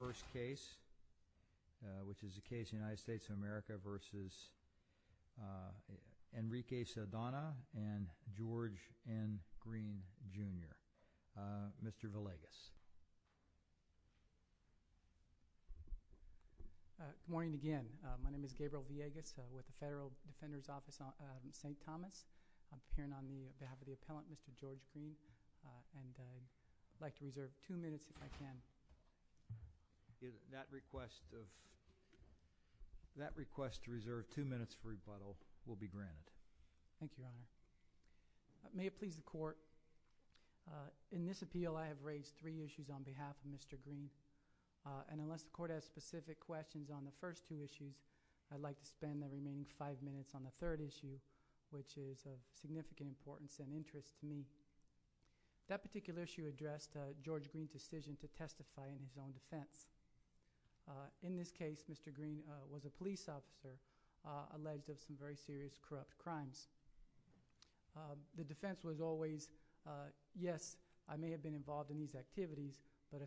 versus Enrique Saldana and George N. Greene, Jr. Mr. Villegas. Good morning again. My name is Gabriel Villegas with the Federal Defender's Office in St. Thomas. I'm appearing on behalf of the appellant, Mr. George Greene. And I'd like to reserve two minutes if I can. That request to reserve two minutes for rebuttal will be granted. Thank you, Your Honor. May it please the Court, in this appeal I have raised three issues on behalf of Mr. Greene. And unless the Court has specific questions on the first two issues, I'd like to spend the remaining five minutes on the third issue, which is of significant importance and interest to me. That particular issue addressed George Greene's decision to testify in his own defense. In this case, Mr. Greene was a police officer alleged of some very serious corrupt crimes. The defense was always, yes, I may have been involved in these activities, but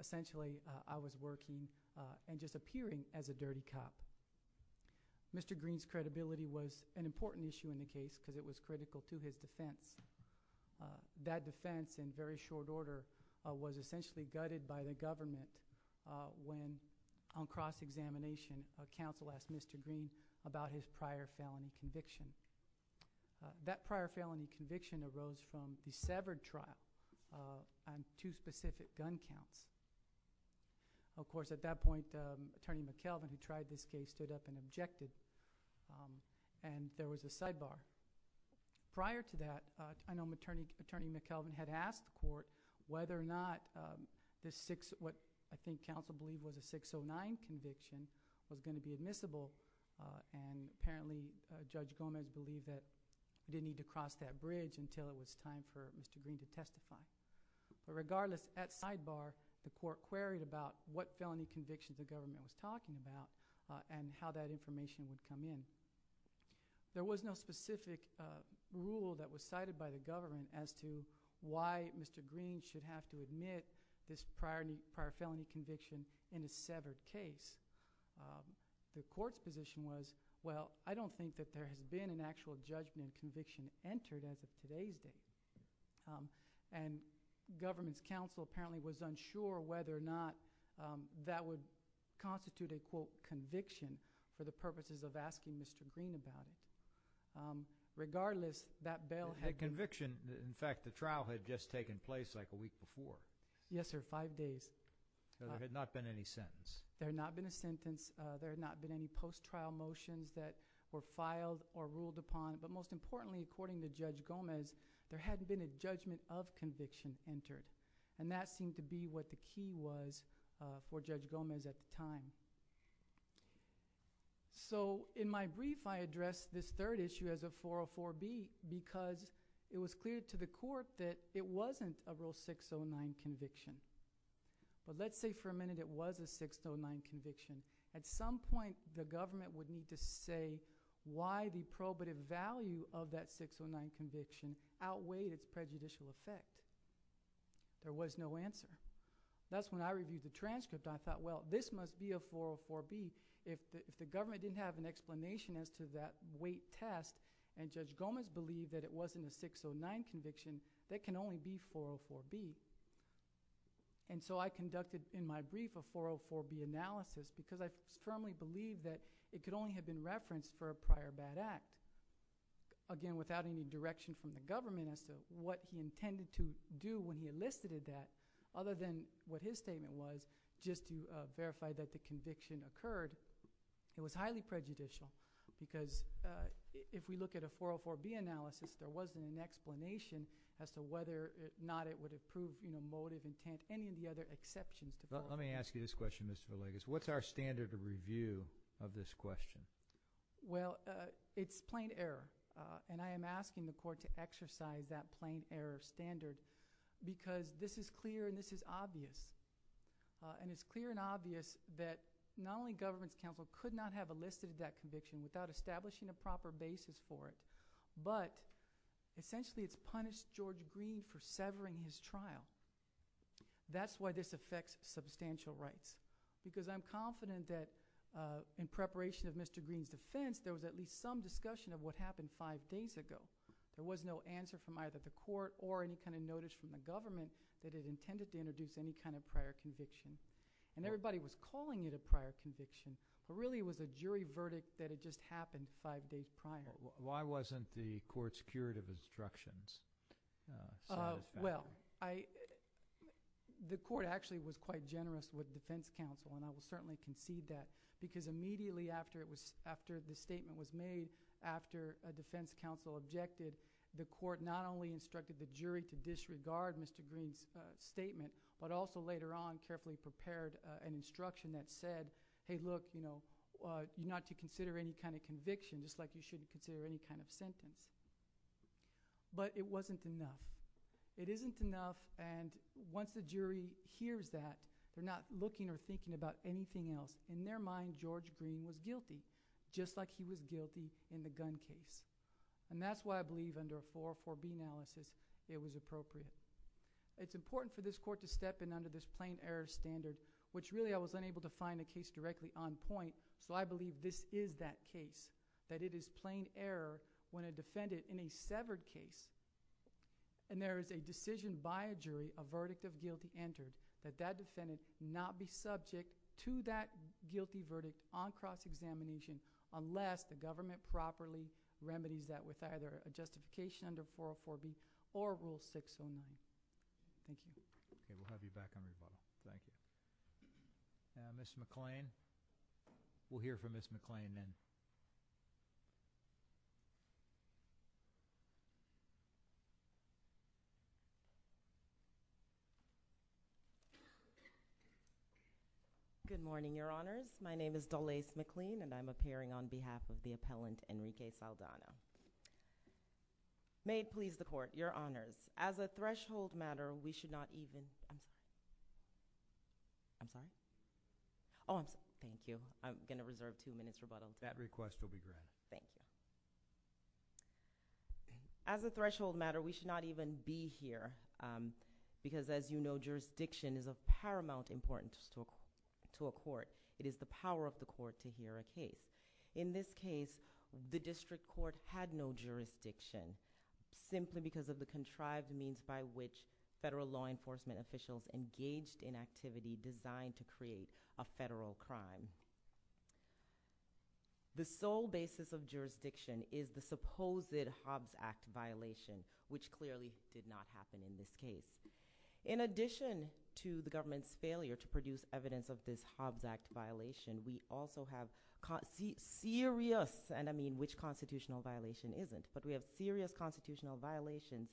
essentially I was working and just appearing as a dirty cop. Mr. Greene's credibility was an important issue in the case because it was critical to his defense. That defense, in very short order, was essentially gutted by the government when on cross-examination a counsel asked Mr. Greene about his prior felony conviction. That prior felony conviction arose from the severed trial and two specific gun counts. Of course, at that point, Attorney McKelvin, who tried this case, stood up and objected, and there was a sidebar. Prior to that, I know Attorney McKelvin had asked the Court whether or not what I think counsel believed was a 609 conviction was going to be admissible, and apparently Judge Gomez believed that he didn't need to cross that bridge until it was time for Mr. Greene to testify. But regardless, at sidebar, the Court queried about what felony conviction the government was talking about and how that information would come in. There was no specific rule that was cited by the government as to why Mr. Greene should have to admit this prior felony conviction in a severed case. The Court's position was, well, I don't think that there has been an actual judgment conviction entered as of today's date. And government's counsel apparently was unsure whether or not that would constitute a, quote, conviction for the purposes of asking Mr. Greene about it. Regardless, that bail had been— It had conviction. In fact, the trial had just taken place like a week before. Yes, sir, five days. There had not been any sentence. There had not been a sentence. There had not been any post-trial motions that were filed or ruled upon. But most importantly, according to Judge Gomez, there hadn't been a judgment of conviction entered. And that seemed to be what the key was for Judge Gomez at the time. So in my brief, I addressed this third issue as a 404B because it was clear to the Court that it wasn't a Rule 609 conviction. But let's say for a minute it was a 609 conviction. At some point, the government would need to say why the probative value of that 609 conviction outweighed its prejudicial effect. There was no answer. That's when I reviewed the transcript. I thought, well, this must be a 404B. If the government didn't have an explanation as to that weight test and Judge Gomez believed that it wasn't a 609 conviction, that can only be 404B. And so I conducted in my brief a 404B analysis because I firmly believed that it could only have been referenced for a prior bad act. Again, without any direction from the government as to what he intended to do when he elicited that, other than what his statement was just to verify that the conviction occurred. It was highly prejudicial because if we look at a 404B analysis, there wasn't an explanation as to whether or not it would have proved motive, intent, any of the other exceptions. Let me ask you this question, Mr. Villegas. What's our standard of review of this question? Well, it's plain error. And I am asking the Court to exercise that plain error standard because this is clear and this is obvious. And it's clear and obvious that not only government counsel could not have elicited that conviction without establishing a proper basis for it, but essentially it's punished George Green for severing his trial. That's why this affects substantial rights because I'm confident that in preparation of Mr. Green's defense, there was at least some discussion of what happened five days ago. There was no answer from either the Court or any kind of notice from the government that it intended to introduce any kind of prior conviction. And everybody was calling it a prior conviction, but really it was a jury verdict that it just happened five days prior. Why wasn't the Court's curative instructions? Well, the Court actually was quite generous with the defense counsel, and I will certainly concede that, because immediately after the statement was made, after a defense counsel objected, the Court not only instructed the jury to disregard Mr. Green's statement, but also later on carefully prepared an instruction that said, hey, look, not to consider any kind of conviction, just like you shouldn't consider any kind of sentence. But it wasn't enough. It isn't enough, and once the jury hears that, they're not looking or thinking about anything else. In their mind, George Green was guilty, just like he was guilty in the gun case. And that's why I believe under a 404B analysis it was appropriate. It's important for this Court to step in under this plain error standard, which really I was unable to find a case directly on point. So I believe this is that case, that it is plain error when a defendant in a severed case, and there is a decision by a jury, a verdict of guilty entered, that that defendant not be subject to that guilty verdict on cross-examination unless the government properly remedies that with either a justification under 404B or Rule 609. Thank you. Okay, we'll have you back on the call. Thank you. Ms. McClain? We'll hear from Ms. McClain then. Good morning, Your Honors. My name is Dolaise McLean, and I'm appearing on behalf of the appellant, Enrique Saldana. May it please the Court, Your Honors. As a threshold matter, we should not even— I'm sorry? Oh, I'm sorry. Thank you. I'm going to reserve two minutes rebuttal. That request will be granted. Thank you. As a threshold matter, we should not even be here, because as you know, jurisdiction is of paramount importance to a court. It is the power of the court to hear a case. In this case, the district court had no jurisdiction, simply because of the contrived means by which federal law enforcement officials engaged in activity designed to create a federal crime. The sole basis of jurisdiction is the supposed Hobbs Act violation, which clearly did not happen in this case. In addition to the government's failure to produce evidence of this Hobbs Act violation, we also have serious—and I mean, which constitutional violation isn't— but we have serious constitutional violations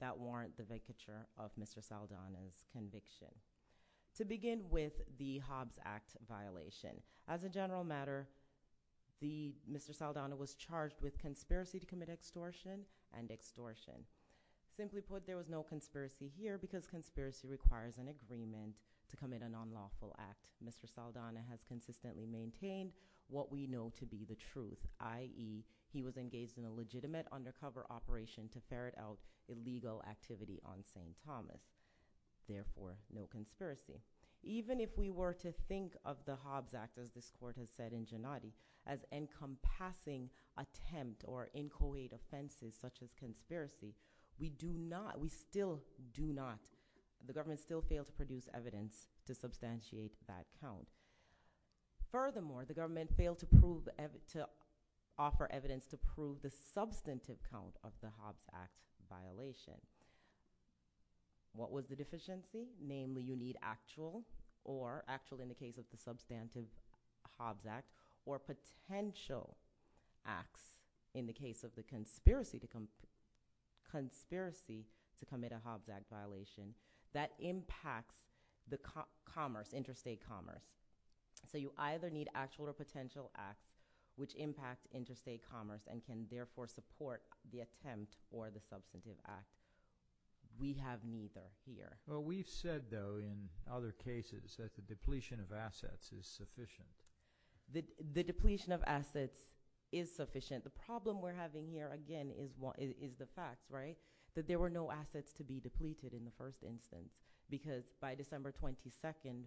that warrant the vacature of Mr. Saldana's conviction. To begin with, the Hobbs Act violation. As a general matter, Mr. Saldana was charged with conspiracy to commit extortion and extortion. Simply put, there was no conspiracy here, because conspiracy requires an agreement to commit an unlawful act. Mr. Saldana has consistently maintained what we know to be the truth, i.e., he was engaged in a legitimate undercover operation to ferret out illegal activity on St. Thomas. Therefore, no conspiracy. Even if we were to think of the Hobbs Act, as this court has said in Gennady, as encompassing attempt or inchoate offenses such as conspiracy, we do not—we still do not—the government still failed to produce evidence to substantiate that count. Furthermore, the government failed to prove—to offer evidence to prove the substantive count of the Hobbs Act violation. What was the deficiency? Namely, you need actual or—actual in the case of the substantive Hobbs Act— or potential acts in the case of the conspiracy to—conspiracy to commit a Hobbs Act violation that impacts the commerce, interstate commerce. So you either need actual or potential acts which impact interstate commerce and can therefore support the attempt or the substantive act. We have neither here. Well, we've said, though, in other cases that the depletion of assets is sufficient. The depletion of assets is sufficient. The problem we're having here, again, is the facts, right? That there were no assets to be depleted in the first instance because by December 22nd,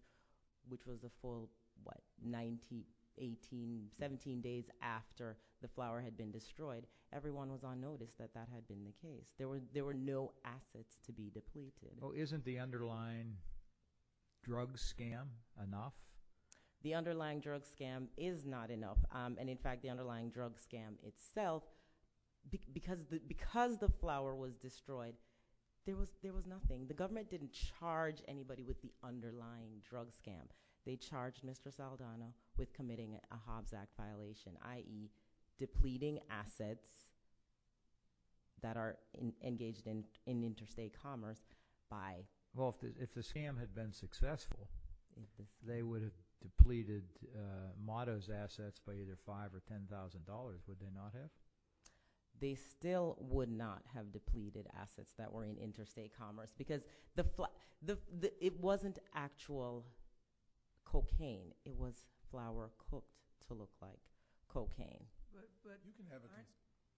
which was a full, what, 19, 18, 17 days after the flower had been destroyed, everyone was on notice that that had been the case. There were no assets to be depleted. Well, isn't the underlying drug scam enough? The underlying drug scam is not enough. And, in fact, the underlying drug scam itself, because the flower was destroyed, there was nothing. The government didn't charge anybody with the underlying drug scam. They charged Mr. Saldana with committing a Hobbs Act violation, i.e. depleting assets that are engaged in interstate commerce by- Well, if the scam had been successful, they would have depleted Motto's assets by either $5,000 or $10,000, would they not have? They still would not have depleted assets that were in interstate commerce because it wasn't actual cocaine. It was flower cooked to look like cocaine. But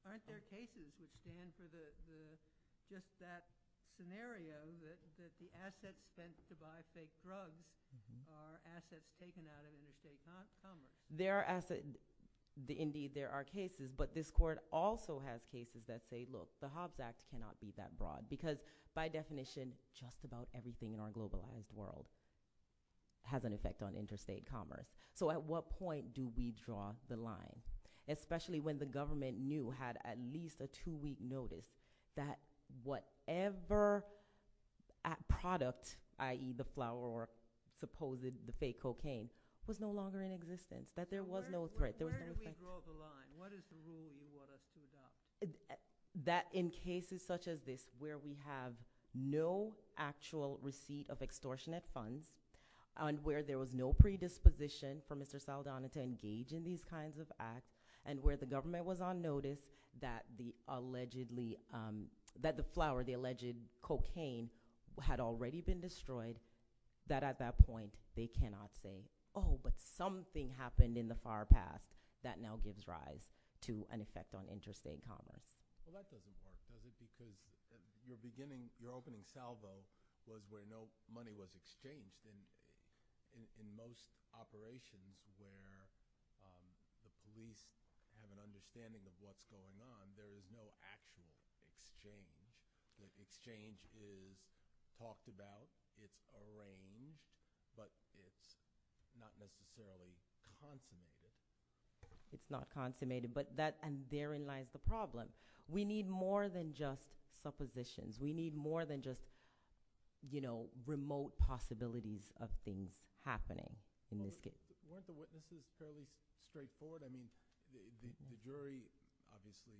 aren't there cases that stand for just that scenario that the assets spent to buy fake drugs are assets taken out of interstate commerce? There are assets. Indeed, there are cases. But this Court also has cases that say, look, the Hobbs Act cannot be that broad because, by definition, just about everything in our globalized world has an effect on interstate commerce. So at what point do we draw the line? Especially when the government knew, had at least a two-week notice, that whatever product, i.e. the flower or supposed fake cocaine, was no longer in existence. That there was no threat. Where do we draw the line? What is the rule you want us to adopt? That in cases such as this where we have no actual receipt of extortionate funds and where there was no predisposition for Mr. Saldana to engage in these kinds of acts and where the government was on notice that the allegedly, that the flower, the alleged cocaine, had already been destroyed, that at that point they cannot say, oh, but something happened in the far past that now gives rise to an effect on interstate commerce. Well, that doesn't work, does it? Because your opening salvo was where no money was exchanged. In most operations where the police have an understanding of what's going on, there is no actual exchange. The exchange is talked about, it's arranged, but it's not necessarily consummated. It's not consummated, and therein lies the problem. We need more than just suppositions. We need more than just remote possibilities of things happening in this case. Weren't the witnesses fairly straightforward? I mean, the jury obviously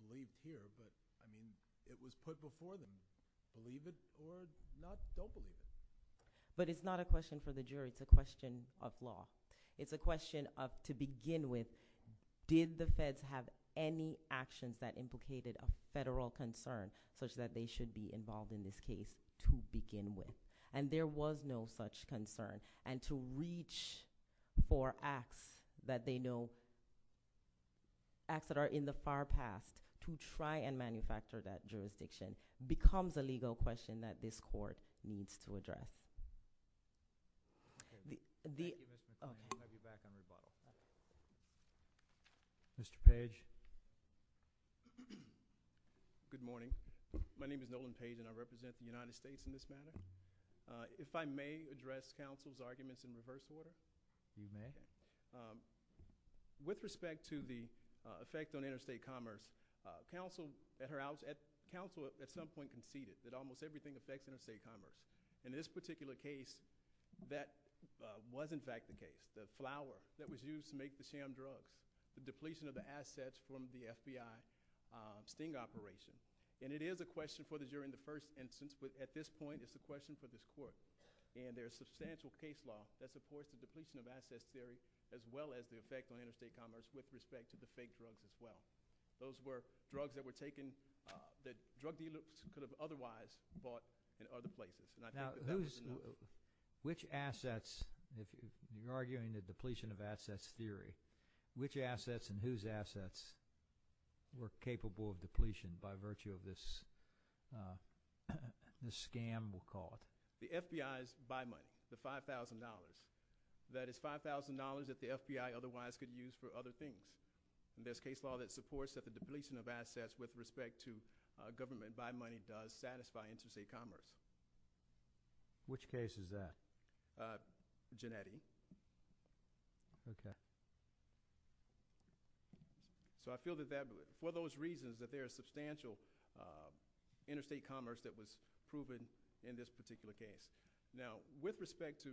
believed here, but, I mean, it was put before them. Believe it or don't believe it. But it's not a question for the jury. It's a question of law. It's a question of, to begin with, did the feds have any actions that implicated a federal concern such that they should be involved in this case to begin with? And there was no such concern. And to reach for acts that they know, acts that are in the far past, to try and manufacture that jurisdiction becomes a legal question that this court needs to address. Mr. Page. Good morning. My name is Nolan Page, and I represent the United States in this matter. If I may address counsel's arguments in reverse order. You may. With respect to the effect on interstate commerce, counsel at some point conceded that almost everything affects interstate commerce. In this particular case, that was in fact the case. The flour that was used to make the sham drugs, the depletion of the assets from the FBI sting operation, and it is a question for the jury in the first instance, but at this point it's a question for this court. And there's substantial case law that supports the depletion of assets theory as well as the effect on interstate commerce with respect to the fake drugs as well. Those were drugs that were taken that drug dealers could have otherwise bought in other places. Now, which assets, if you're arguing the depletion of assets theory, which assets and whose assets were capable of depletion by virtue of this scam we'll call it? The FBI's buy money, the $5,000. That is $5,000 that the FBI otherwise could use for other things. And there's case law that supports that the depletion of assets with respect to government buy money does satisfy interstate commerce. Which case is that? Gennetti. Okay. So I feel that for those reasons that there is substantial interstate commerce that was proven in this particular case. Now, with respect to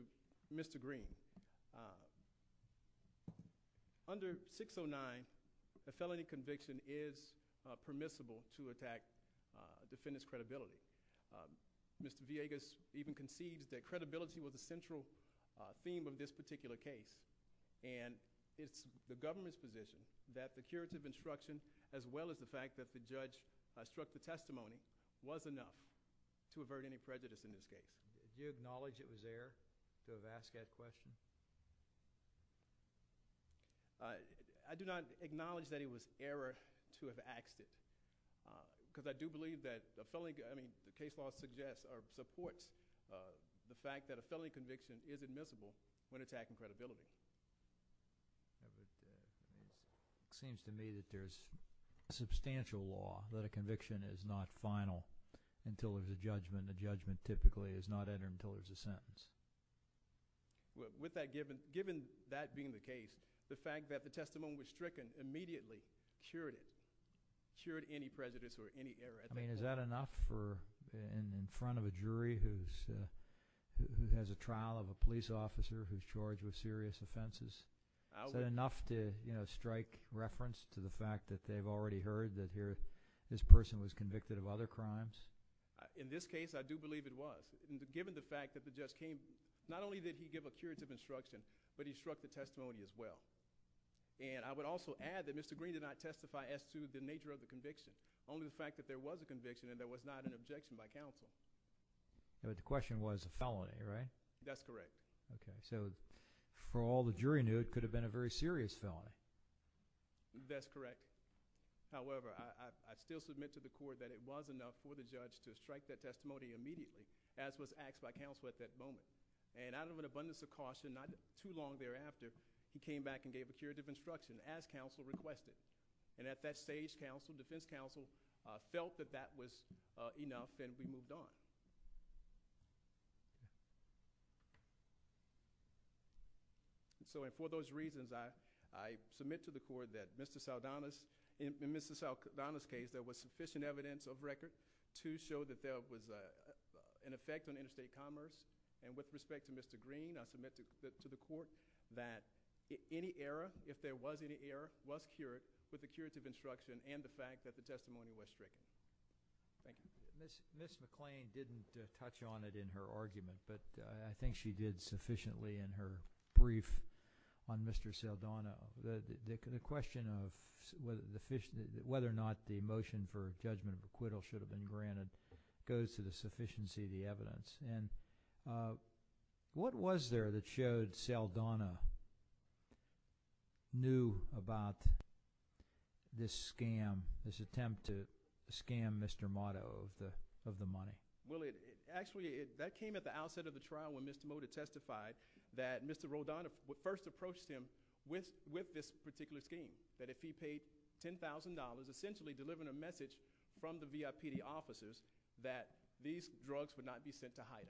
Mr. Green, under 609 a felony conviction is permissible to attack defendant's credibility. Mr. Villegas even concedes that credibility was a central theme of this particular case. And it's the government's position that the curative instruction as well as the fact that the judge struck the testimony was enough to avert any prejudice in this case. Do you acknowledge it was error to have asked that question? I do not acknowledge that it was error to have asked it. Because I do believe that case law supports the fact that a felony conviction is admissible when attacking credibility. It seems to me that there's substantial law that a conviction is not final until there's a judgment. The judgment typically is not entered until there's a sentence. Given that being the case, the fact that the testimony was stricken immediately cured it, cured any prejudice or any error. I mean, is that enough in front of a jury who has a trial of a police officer who's charged with serious offenses? Is that enough to strike reference to the fact that they've already heard that this person was convicted of other crimes? In this case, I do believe it was. Given the fact that the judge came, not only did he give a curative instruction, but he struck the testimony as well. And I would also add that Mr. Green did not testify as to the nature of the conviction, only the fact that there was a conviction and there was not an objection by counsel. But the question was a felony, right? That's correct. Okay, so for all the jury knew, it could have been a very serious felony. That's correct. However, I still submit to the court that it was enough for the judge to strike that testimony immediately, as was asked by counsel at that moment. And out of an abundance of caution, not too long thereafter, he came back and gave a curative instruction, as counsel requested. And at that stage, defense counsel felt that that was enough, and we moved on. So for those reasons, I submit to the court that in Mr. Saldana's case, there was sufficient evidence of record to show that there was an effect on interstate commerce. And with respect to Mr. Green, I submit to the court that any error, if there was any error, was cured with the curative instruction and the fact that the testimony was stricken. Thank you. Ms. McClain didn't touch on it in her argument, but I think she did sufficiently in her brief on Mr. Saldana. The question of whether or not the motion for judgment of acquittal should have been granted goes to the sufficiency of the evidence. And what was there that showed Saldana knew about this scam, this attempt to scam Mr. Motto of the money? Well, actually, that came at the outset of the trial when Mr. Motta testified that Mr. Rodana first approached him with this particular scheme, that if he paid $10,000, essentially delivering a message from the VIPD offices, that these drugs would not be sent to Hyden.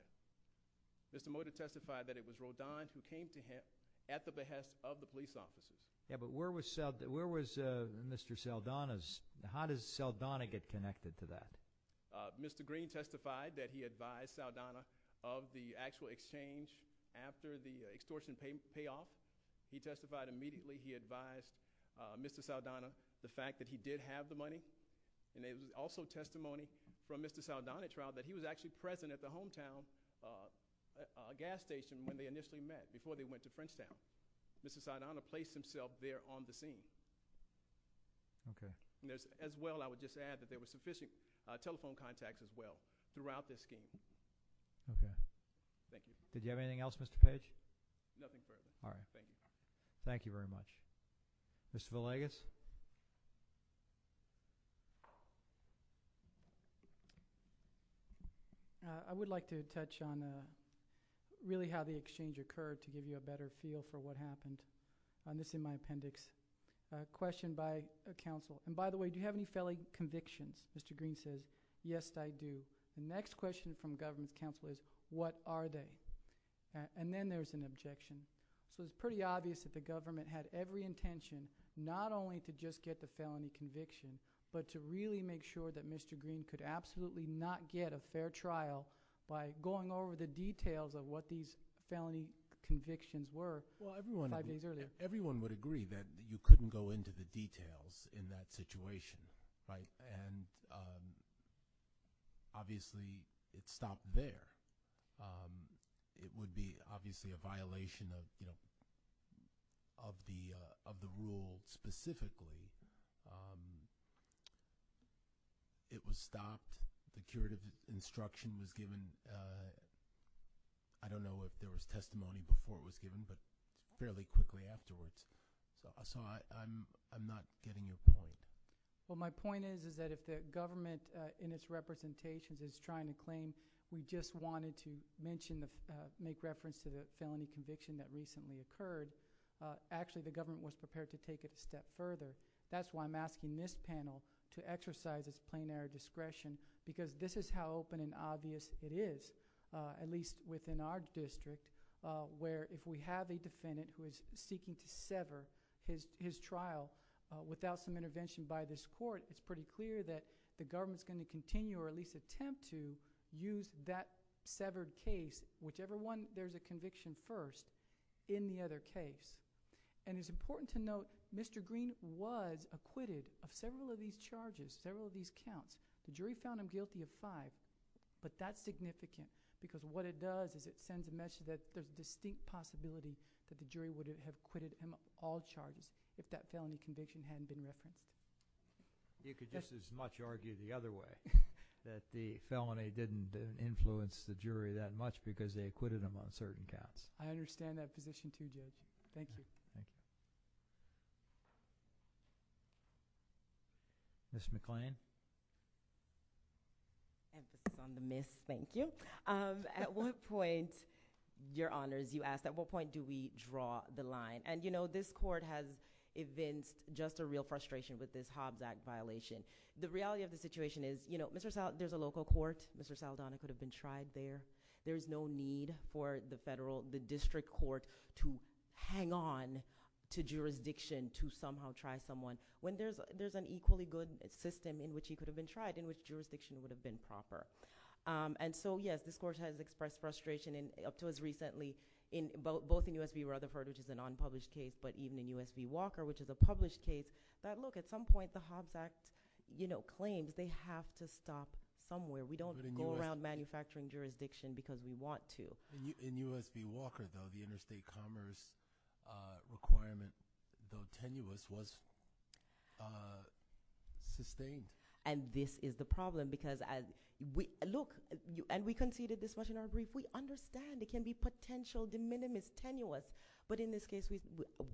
Mr. Motta testified that it was Rodana who came to him at the behest of the police officers. Yeah, but where was Mr. Saldana's – how does Saldana get connected to that? Mr. Green testified that he advised Saldana of the actual exchange after the extortion payoff. He testified immediately he advised Mr. Saldana of the fact that he did have the money. And there was also testimony from Mr. Saldana at trial that he was actually present at the hometown gas station when they initially met, before they went to Frenchtown. Mr. Saldana placed himself there on the scene. Okay. As well, I would just add that there were sufficient telephone contacts as well throughout this scheme. Okay. Thank you. Did you have anything else, Mr. Page? Nothing further. All right. Thank you. Thank you very much. Mr. Villegas? I would like to touch on really how the exchange occurred to give you a better feel for what happened. This is in my appendix. A question by a counsel. And by the way, do you have any felling convictions? Mr. Green says, yes, I do. The next question from a government counsel is, what are they? And then there's an objection. So it's pretty obvious that the government had every intention not only to just get the felony conviction, but to really make sure that Mr. Green could absolutely not get a fair trial by going over the details of what these felony convictions were five days earlier. Well, everyone would agree that you couldn't go into the details in that situation. Right? And obviously it stopped there. It would be obviously a violation of the rule specifically. It was stopped. The curative instruction was given. I don't know if there was testimony before it was given, but fairly quickly afterwards. So I'm not getting your point. Well, my point is, is that if the government in its representations is trying to claim we just wanted to mention, make reference to the felony conviction that recently occurred, actually the government was prepared to take it a step further. That's why I'm asking this panel to exercise its plenary discretion because this is how open and obvious it is, at least within our district where if we have a defendant who is seeking to sever his trial without some intervention by this court, it's pretty clear that the government is going to continue or at least attempt to use that severed case, whichever one there's a conviction first, in the other case. And it's important to note Mr. Green was acquitted of several of these charges, several of these counts. The jury found him guilty of five, but that's significant because what it does is it sends a message that there's a distinct possibility that the jury would have acquitted him of all charges if that felony conviction hadn't been referenced. You could just as much argue the other way, that the felony didn't influence the jury that much because they acquitted him on certain counts. I understand that position too, Jake. Thank you. Ms. McClain. Emphasis on the miss, thank you. At what point, your honors, you asked, at what point do we draw the line? And you know, this court has evinced just a real frustration with this Hobbs Act violation. The reality of the situation is, you know, there's a local court, Mr. Saldana could have been tried there. There's no need for the district court to hang on to jurisdiction to somehow try someone. When there's an equally good system in which he could have been tried, in which jurisdiction would have been proper. And so, yes, this court has expressed frustration up to as recently, both in U.S. v. Rutherford, which is a non-published case, but even in U.S. v. Walker, which is a published case, that look, at some point the Hobbs Act, you know, claims they have to stop somewhere. We don't go around manufacturing jurisdiction because we want to. In U.S. v. Walker, though, the interstate commerce requirement, though tenuous, was sustained. And this is the problem because, look, and we conceded this much in our brief. We understand it can be potential, de minimis, tenuous, but in this case,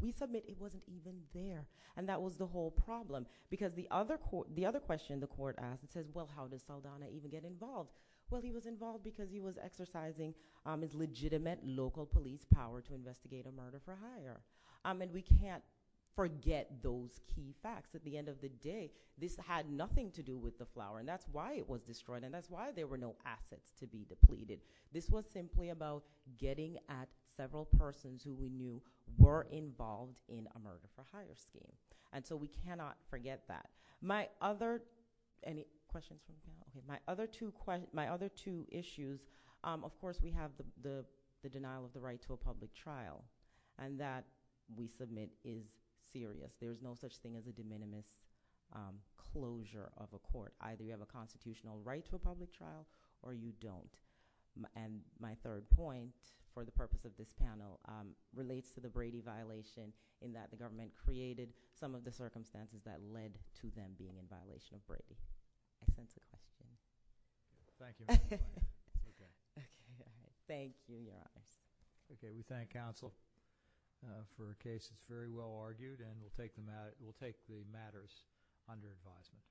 we submit it wasn't even there. And that was the whole problem because the other question the court asked, it says, well, how does Saldana even get involved? Well, he was involved because he was exercising his legitimate local police power to investigate a murder-for-hire. And we can't forget those key facts. At the end of the day, this had nothing to do with the flower, and that's why it was destroyed, and that's why there were no assets to be depleted. This was simply about getting at several persons who we knew were involved in a murder-for-hire scheme. And so we cannot forget that. My other two issues, of course, we have the denial of the right to a public trial, and that, we submit, is serious. There is no such thing as a de minimis closure of a court. Either you have a constitutional right to a public trial or you don't. And my third point for the purpose of this panel relates to the Brady violation in that the government created some of the circumstances that led to them being in violation of Brady. I think that's the question. Thank you. Okay. Thank you, Your Honor. Okay. We thank counsel for a case that's very well argued, and we'll take the matters under advisement.